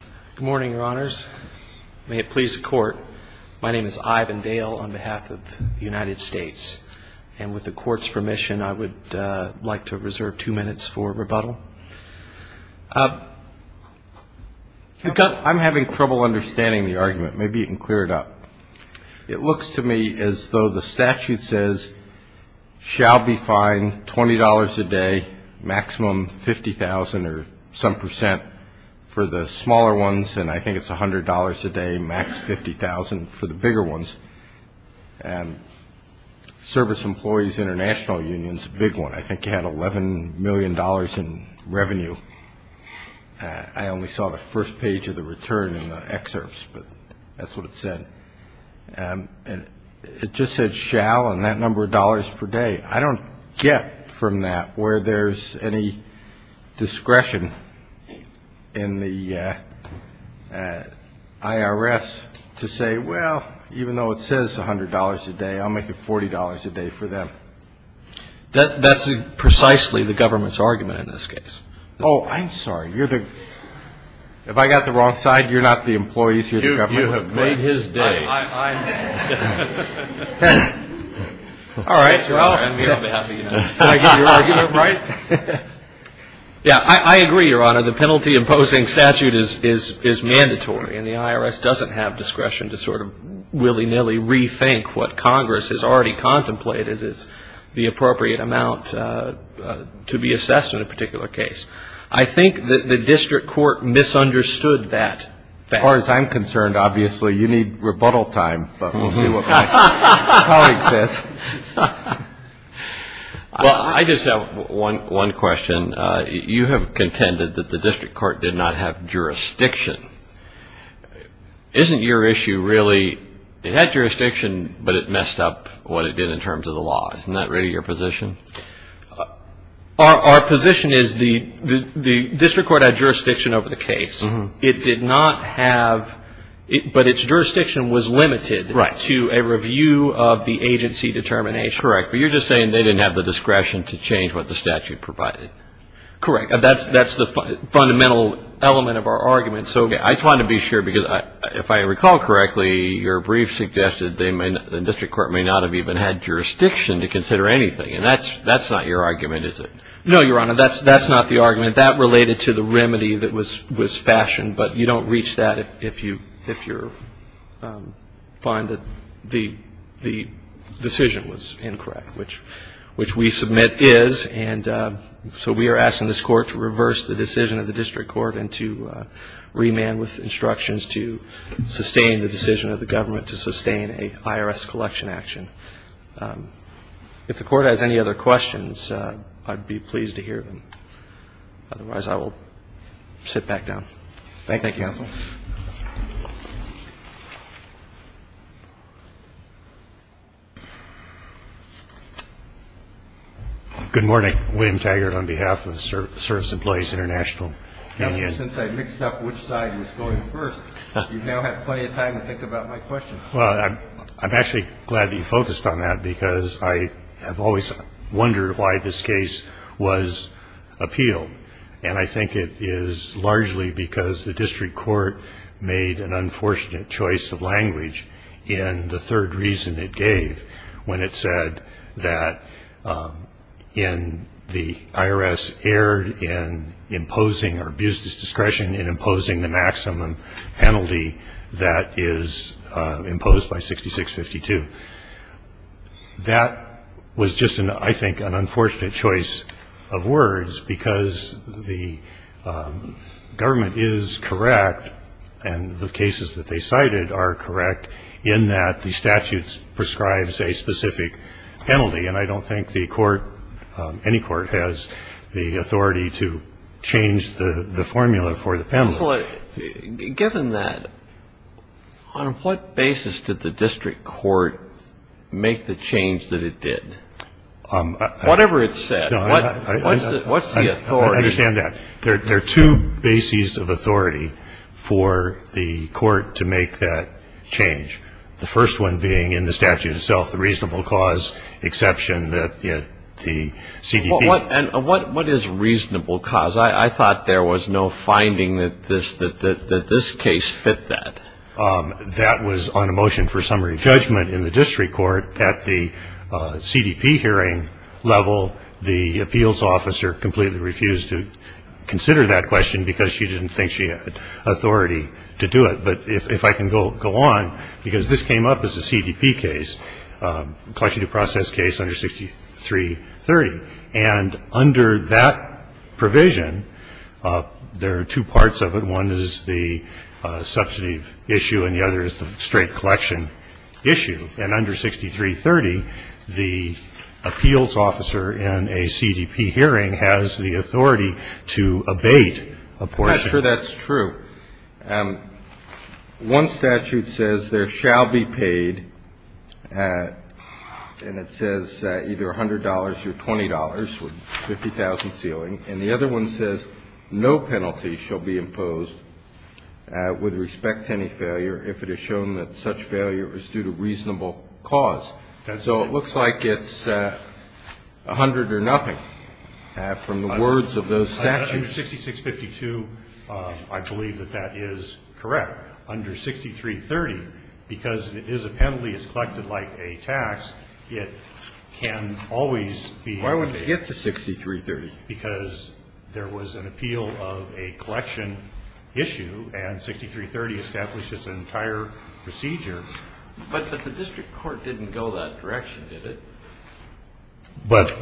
Good morning, Your Honors. May it please the Court, my name is Ivan Dale on behalf of the United States. And with the Court's permission, I would like to reserve two minutes for rebuttal. I'm having trouble understanding the argument. Maybe you can clear it up. It looks to me as though the statute says, shall be fined $20 a day, maximum $50,000 or some percent for the smaller ones, and I think it's $100 a day, max $50,000 for the bigger ones. And Service Employees International Union is a big one. I think it had $11 million in revenue. I only saw the first page of the return in the excerpts, but that's what it said. And it just said shall and that number of dollars per day. I don't get from that where there's any discretion in the IRS to say, well, even though it says $100 a day, I'll make it $40 a day for them. That's precisely the government's argument in this case. Oh, I'm sorry. You're the – have I got the wrong side? You're not the employees here? You have made his day. All right. Yeah, I agree, Your Honor. The penalty imposing statute is mandatory, and the IRS doesn't have discretion to sort of willy-nilly rethink what Congress has already contemplated as the appropriate amount to be assessed in a particular case. I think the district court misunderstood that fact. As far as I'm concerned, obviously, you need rebuttal time, but we'll see what my colleague says. Well, I just have one question. You have contended that the district court did not have jurisdiction. Isn't your issue really it had jurisdiction, but it messed up what it did in terms of the law? Isn't that really your position? Our position is the district court had jurisdiction over the case. It did not have – but its jurisdiction was limited to a review of the agency determination. Correct. But you're just saying they didn't have the discretion to change what the statute provided. Correct. That's the fundamental element of our argument. I just wanted to be sure, because if I recall correctly, your brief suggested the district court may not have even had jurisdiction to consider anything, and that's not your argument, is it? No, Your Honor. That's not the argument. I mean, that related to the remedy that was fashioned, but you don't reach that if you find that the decision was incorrect, which we submit is. And so we are asking this Court to reverse the decision of the district court and to remand with instructions to sustain the decision of the government to sustain an IRS collection action. If the Court has any other questions, I'd be pleased to hear them. Otherwise, I will sit back down. Thank you. Thank you, counsel. Good morning. William Taggart on behalf of Service Employees International. Governor, since I mixed up which side was going first, you've now had plenty of time to think about my question. Well, I'm actually glad that you focused on that, because I have always wondered why this case was appealed, and I think it is largely because the district court made an unfortunate choice of language in the third reason it gave when it said that in the IRS erred in imposing or abused its discretion in imposing the maximum penalty that is imposed by 6652. That was just, I think, an unfortunate choice of words, because the government is correct and the cases that they cited are correct in that the statute prescribes a specific penalty, and I don't think the court, any court, has the authority to change the formula for the penalty. Well, given that, on what basis did the district court make the change that it did? Whatever it said. What's the authority? I understand that. There are two bases of authority for the court to make that change, the first one being in the statute itself, the reasonable cause exception that the CDP. What is reasonable cause? I thought there was no finding that this case fit that. That was on a motion for summary judgment in the district court at the CDP hearing level. The appeals officer completely refused to consider that question because she didn't think she had authority to do it. But if I can go on, because this came up as a CDP case, collection due process case under 6330. And under that provision, there are two parts of it. One is the substantive issue and the other is the straight collection issue. And under 6330, the appeals officer in a CDP hearing has the authority to abate a portion. I'm not sure that's true. One statute says there shall be paid, and it says either $100 or $20 with 50,000 ceiling. And the other one says no penalty shall be imposed with respect to any failure if it is shown that such failure is due to reasonable cause. So it looks like it's 100 or nothing from the words of those statutes. Under 6652, I believe that that is correct. Under 6330, because it is a penalty, it's collected like a tax, it can always be abated. Why wouldn't it get to 6330? Because there was an appeal of a collection issue, and 6330 establishes an entire procedure. But the district court didn't go that direction, did it? But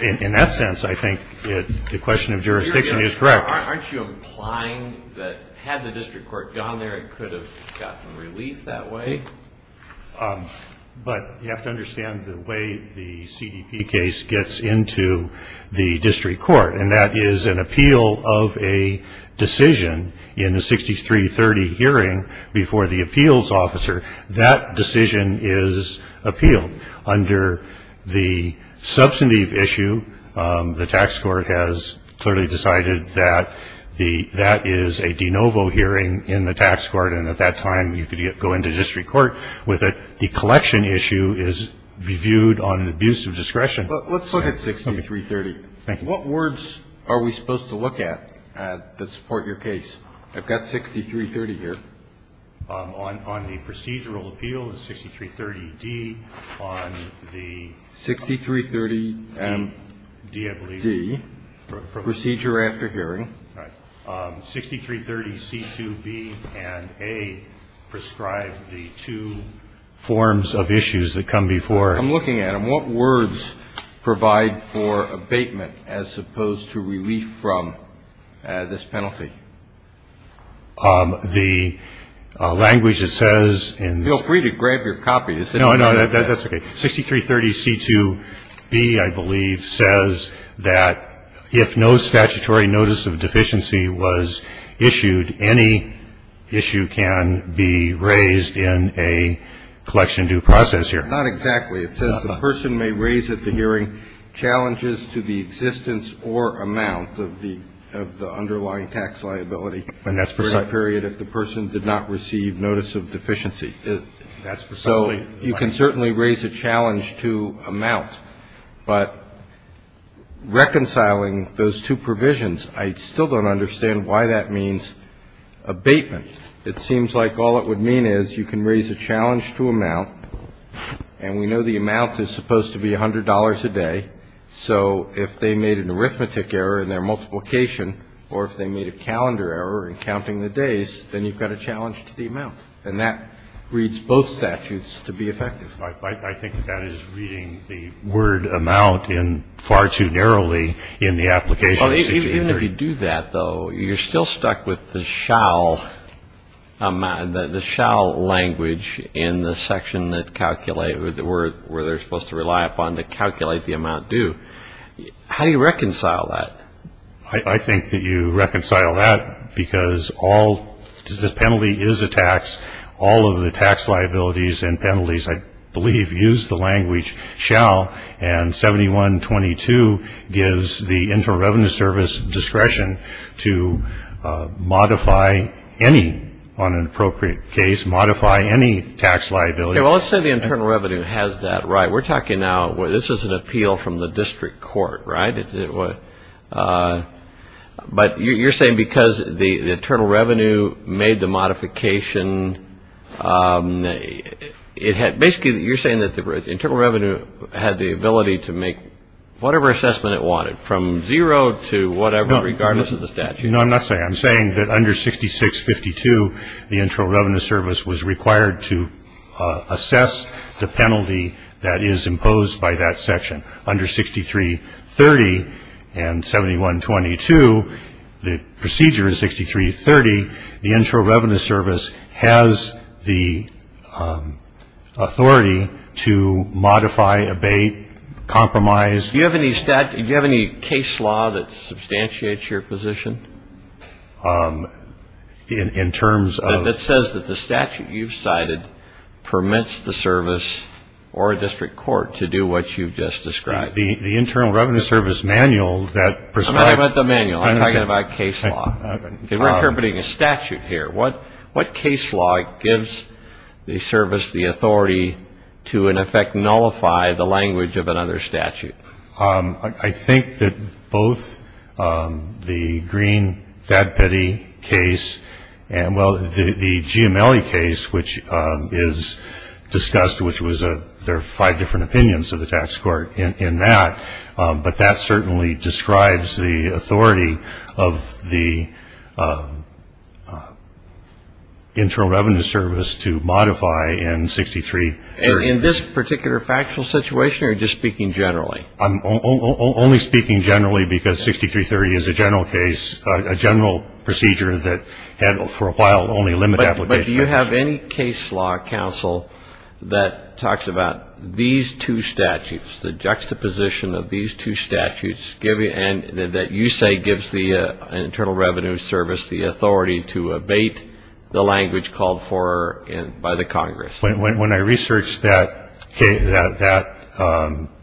in that sense, I think the question of jurisdiction is correct. Aren't you implying that had the district court gone there, it could have gotten released that way? But you have to understand the way the CDP case gets into the district court, and that is an appeal of a decision in the 6330 hearing before the appeals officer. That decision is appealed under the substantive issue. The tax court has clearly decided that that is a de novo hearing in the tax court, and at that time you could go into district court with it. The collection issue is viewed on an abuse of discretion. Let's look at 6330. Thank you. What words are we supposed to look at that support your case? I've got 6330 here. On the procedural appeal, the 6330-D, on the ---- 6330-D, I believe. Procedure after hearing. Right. 6330C2B and A prescribe the two forms of issues that come before. I'm looking at them. What words provide for abatement as opposed to relief from this penalty? The language that says in the ---- Feel free to grab your copy. No, no, that's okay. 6330C2B, I believe, says that if no statutory notice of deficiency was issued, any issue can be raised in a collection due process here. Not exactly. It says the person may raise at the hearing challenges to the existence or amount of the underlying tax liability for a period if the person did not receive notice of deficiency. That's precisely right. So you can certainly raise a challenge to amount. But reconciling those two provisions, I still don't understand why that means abatement. It seems like all it would mean is you can raise a challenge to amount, and we know the amount is supposed to be $100 a day. So if they made an arithmetic error in their multiplication or if they made a calendar error in counting the days, then you've got a challenge to the amount. And that reads both statutes to be effective. I think that is reading the word amount far too narrowly in the application procedure. Even if you do that, though, you're still stuck with the shall language in the section that calculates where they're supposed to rely upon to calculate the amount due. How do you reconcile that? I think that you reconcile that because all the penalty is a tax. All of the tax liabilities and penalties, I believe, use the language shall, and 7122 gives the Internal Revenue Service discretion to modify any, on an appropriate case, modify any tax liability. Well, let's say the Internal Revenue has that right. We're talking now, this is an appeal from the district court, right? But you're saying because the Internal Revenue made the modification, basically you're saying that the Internal Revenue had the ability to make whatever assessment it wanted, from zero to whatever, regardless of the statute. No, I'm not saying that. I'm saying that under 6652, the Internal Revenue Service was required to assess the penalty that is imposed by that section. Under 6330 and 7122, the procedure is 6330. The Internal Revenue Service has the authority to modify, abate, compromise. Do you have any case law that substantiates your position? In terms of? It says that the statute you've cited permits the service or a district court to do what you've just described. The Internal Revenue Service manual that prescribes. I meant the manual. I'm talking about case law. We're interpreting a statute here. What case law gives the service the authority to, in effect, nullify the language of another statute? I think that both the Green-Thadpetty case and, well, the Giamelli case, which is discussed, which was there are five different opinions of the tax court in that, but that certainly describes the authority of the Internal Revenue Service to modify in 6330. In this particular factual situation or just speaking generally? I'm only speaking generally because 6330 is a general case, a general procedure that had for a while only limited application. Do you have any case law, Counsel, that talks about these two statutes, the juxtaposition of these two statutes, and that you say gives the Internal Revenue Service the authority to abate the language called for by the Congress? When I researched that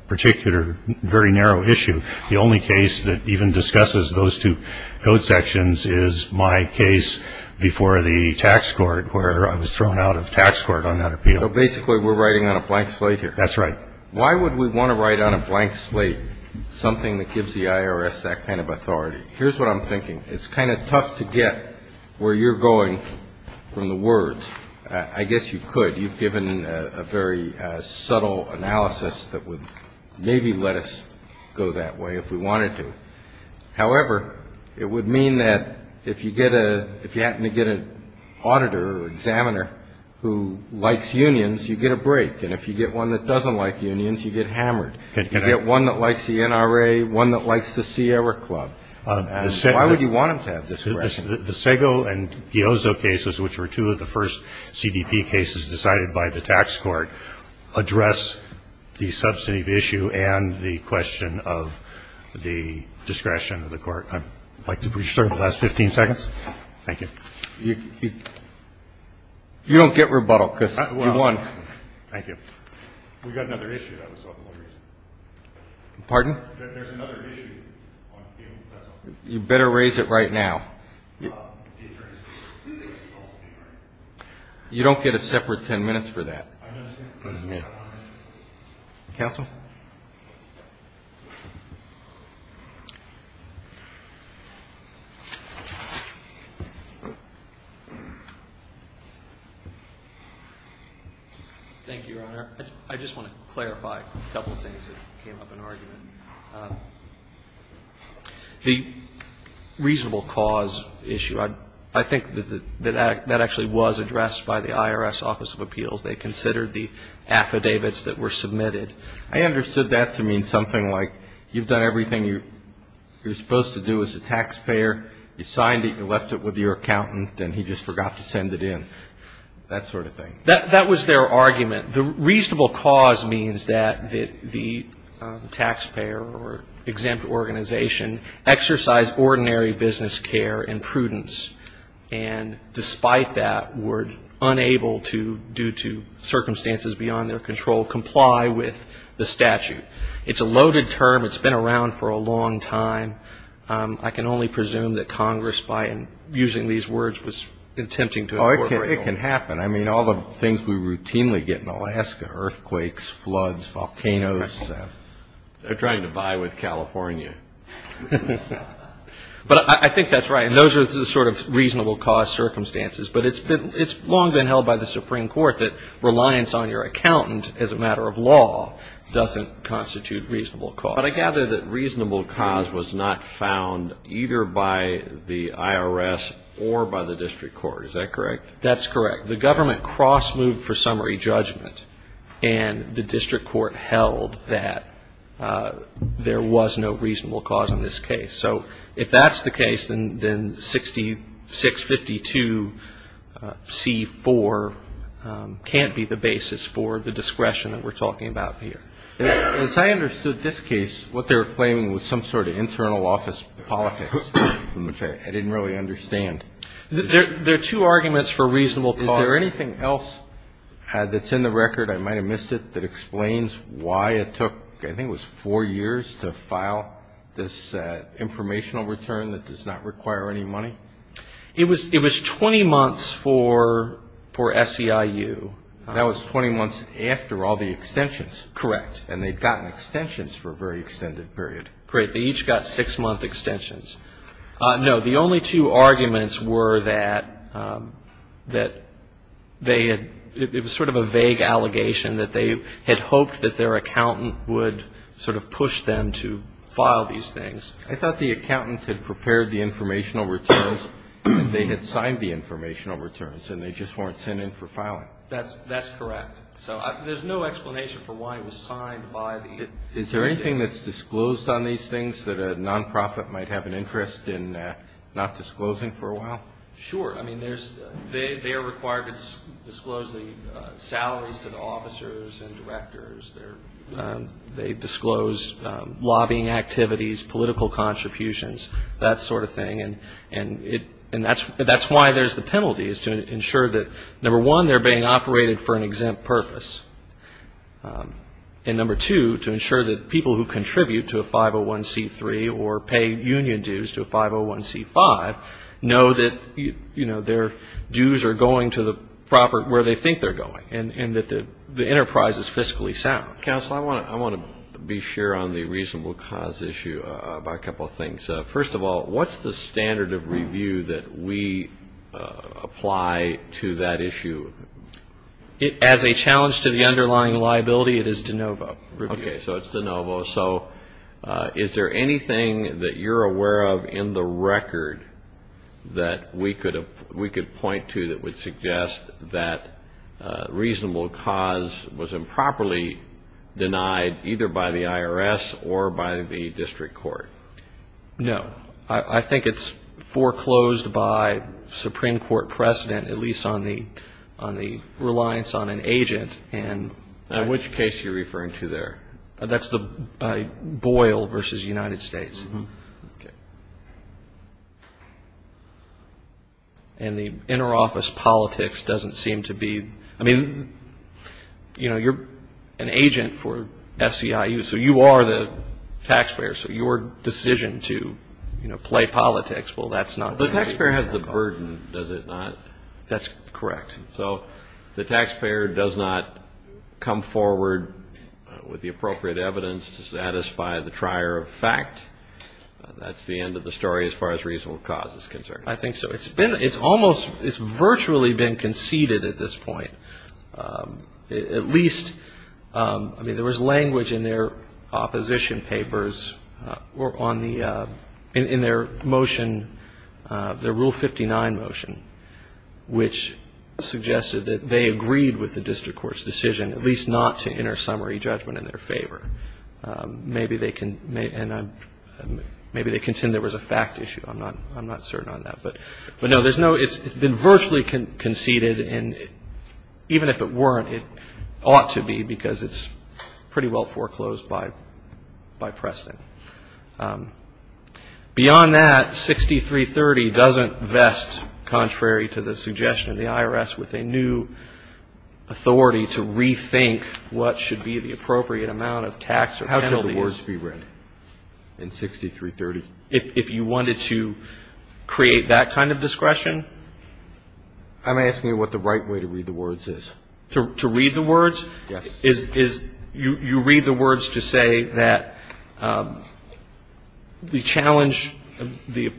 particular very narrow issue, the only case that even discusses those two code sections is my case before the tax court, where I was thrown out of tax court on that appeal. So basically we're writing on a blank slate here? That's right. Why would we want to write on a blank slate something that gives the IRS that kind of authority? Here's what I'm thinking. It's kind of tough to get where you're going from the words. I guess you could. You've given a very subtle analysis that would maybe let us go that way if we wanted to. However, it would mean that if you happen to get an auditor or examiner who likes unions, you get a break. And if you get one that doesn't like unions, you get hammered. You get one that likes the NRA, one that likes the Sierra Club. Why would you want them to have discretion? The Sago and Giozzo cases, which were two of the first CDP cases decided by the tax court, address the substantive issue and the question of the discretion of the court. I'd like to preserve the last 15 seconds. Thank you. You don't get rebuttal because you won. Thank you. We've got another issue. Pardon? There's another issue. You better raise it right now. You don't get a separate ten minutes for that. I understand. Counsel? Thank you, Your Honor. I just want to clarify a couple of things that came up in argument. The reasonable cause issue, I think that that actually was addressed by the IRS Office of Appeals. They considered the affidavits that were submitted. I understood that to mean something like you've done everything you're supposed to do as a taxpayer. You signed it. You left it with your accountant, and he just forgot to send it in, that sort of thing. That was their argument. The reasonable cause means that the taxpayer or exempt organization exercised ordinary business care and prudence and, despite that, were unable to, due to circumstances beyond their control, comply with the statute. It's a loaded term. It's been around for a long time. I can only presume that Congress, by using these words, was attempting to incorporate them. Oh, it can happen. I mean, all the things we routinely get in Alaska, earthquakes, floods, volcanoes. They're trying to buy with California. But I think that's right, and those are the sort of reasonable cause circumstances. But it's long been held by the Supreme Court that reliance on your accountant as a matter of law doesn't constitute reasonable cause. But I gather that reasonable cause was not found either by the IRS or by the district court. Is that correct? That's correct. The government cross-moved for summary judgment, and the district court held that there was no reasonable cause in this case. So if that's the case, then 652C4 can't be the basis for the discretion that we're talking about here. As I understood this case, what they were claiming was some sort of internal office politics, which I didn't really understand. There are two arguments for reasonable cause. Is there anything else that's in the record, I might have missed it, that explains why it took I think it was four years to file this informational return that does not require any money? It was 20 months for SEIU. That was 20 months after all the extensions. Correct. And they'd gotten extensions for a very extended period. Great. They each got six-month extensions. No, the only two arguments were that they had, it was sort of a vague allegation, that they had hoped that their accountant would sort of push them to file these things. I thought the accountant had prepared the informational returns and they had signed the informational returns and they just weren't sent in for filing. That's correct. So there's no explanation for why it was signed by the agency. Is there anything that's disclosed on these things that a nonprofit might have an interest in not disclosing for a while? Sure. I mean, they are required to disclose the salaries to the officers and directors. They disclose lobbying activities, political contributions, that sort of thing, and that's why there's the penalties to ensure that, number one, they're being operated for an exempt purpose, and, number two, to ensure that people who contribute to a 501C3 or pay union dues to a 501C5 know that, you know, their dues are going to the property where they think they're going and that the enterprise is fiscally sound. Counsel, I want to be sure on the reasonable cause issue about a couple of things. First of all, what's the standard of review that we apply to that issue? As a challenge to the underlying liability, it is de novo. Okay. So it's de novo. So is there anything that you're aware of in the record that we could point to that would suggest that reasonable cause was improperly denied either by the IRS or by the district court? No. I think it's foreclosed by Supreme Court precedent, at least on the reliance on an agent. And in which case are you referring to there? That's the Boyle versus United States. Okay. And the interoffice politics doesn't seem to be, I mean, you know, you're an agent for SEIU, so you are the taxpayer, so your decision to, you know, play politics, well, that's not. The taxpayer has the burden, does it not? That's correct. So the taxpayer does not come forward with the appropriate evidence to satisfy the trier of fact. That's the end of the story as far as reasonable cause is concerned. I think so. It's been, it's almost, it's virtually been conceded at this point. At least, I mean, there was language in their opposition papers or on the, in their motion, their Rule 59 motion, which suggested that they agreed with the district court's decision, at least not to enter summary judgment in their favor. Maybe they can, and maybe they contend there was a fact issue. I'm not certain on that. But, no, there's no, it's been virtually conceded, and even if it weren't, it ought to be because it's pretty well foreclosed by Preston. Beyond that, 6330 doesn't vest, contrary to the suggestion of the IRS, with a new authority to rethink what should be the appropriate amount of tax or penalties. How can the words be read in 6330? If you wanted to create that kind of discretion? I'm asking you what the right way to read the words is. To read the words? Yes. Is, you read the words to say that the challenge of the,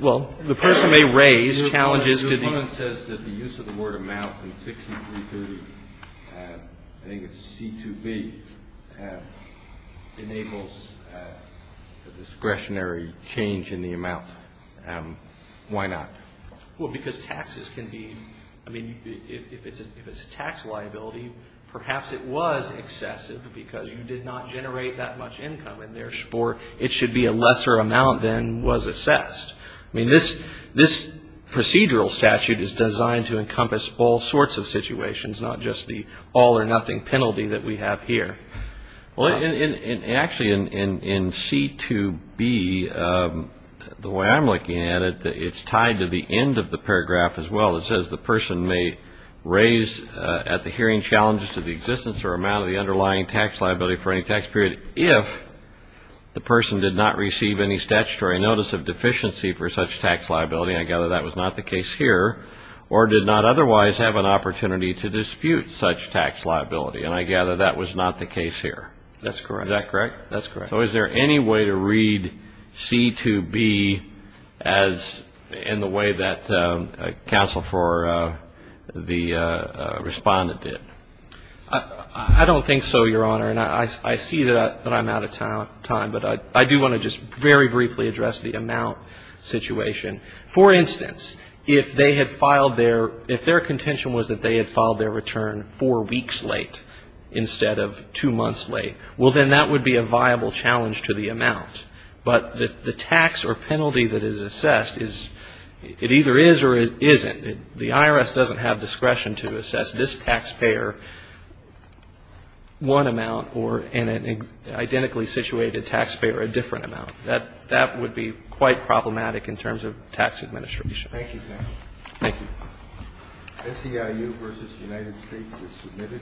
well, the person may raise challenges to the. The moment says that the use of the word amount in 6330, I think it's C2B, enables a discretionary change in the amount. Why not? Well, because taxes can be, I mean, if it's a tax liability, perhaps it was excessive because you did not generate that much income in their score. It should be a lesser amount than was assessed. I mean, this procedural statute is designed to encompass all sorts of situations, not just the all or nothing penalty that we have here. Well, actually, in C2B, the way I'm looking at it, it's tied to the end of the paragraph as well. It says the person may raise at the hearing challenges to the existence or amount of the underlying tax liability for any tax period if the person did not receive any statutory notice of deficiency for such tax liability. I gather that was not the case here, or did not otherwise have an opportunity to dispute such tax liability. And I gather that was not the case here. That's correct. Is that correct? That's correct. So is there any way to read C2B as in the way that counsel for the respondent did? I don't think so, Your Honor. And I see that I'm out of time, but I do want to just very briefly address the amount situation. For instance, if they had filed their, if their contention was that they had filed their return four weeks late instead of two months late, well, then that would be a viable challenge to the amount. But the tax or penalty that is assessed is, it either is or isn't. The IRS doesn't have discretion to assess this taxpayer one amount or an identically situated taxpayer a different amount. That would be quite problematic in terms of tax administration. Thank you, counsel. Thank you. SEIU v. United States is submitted.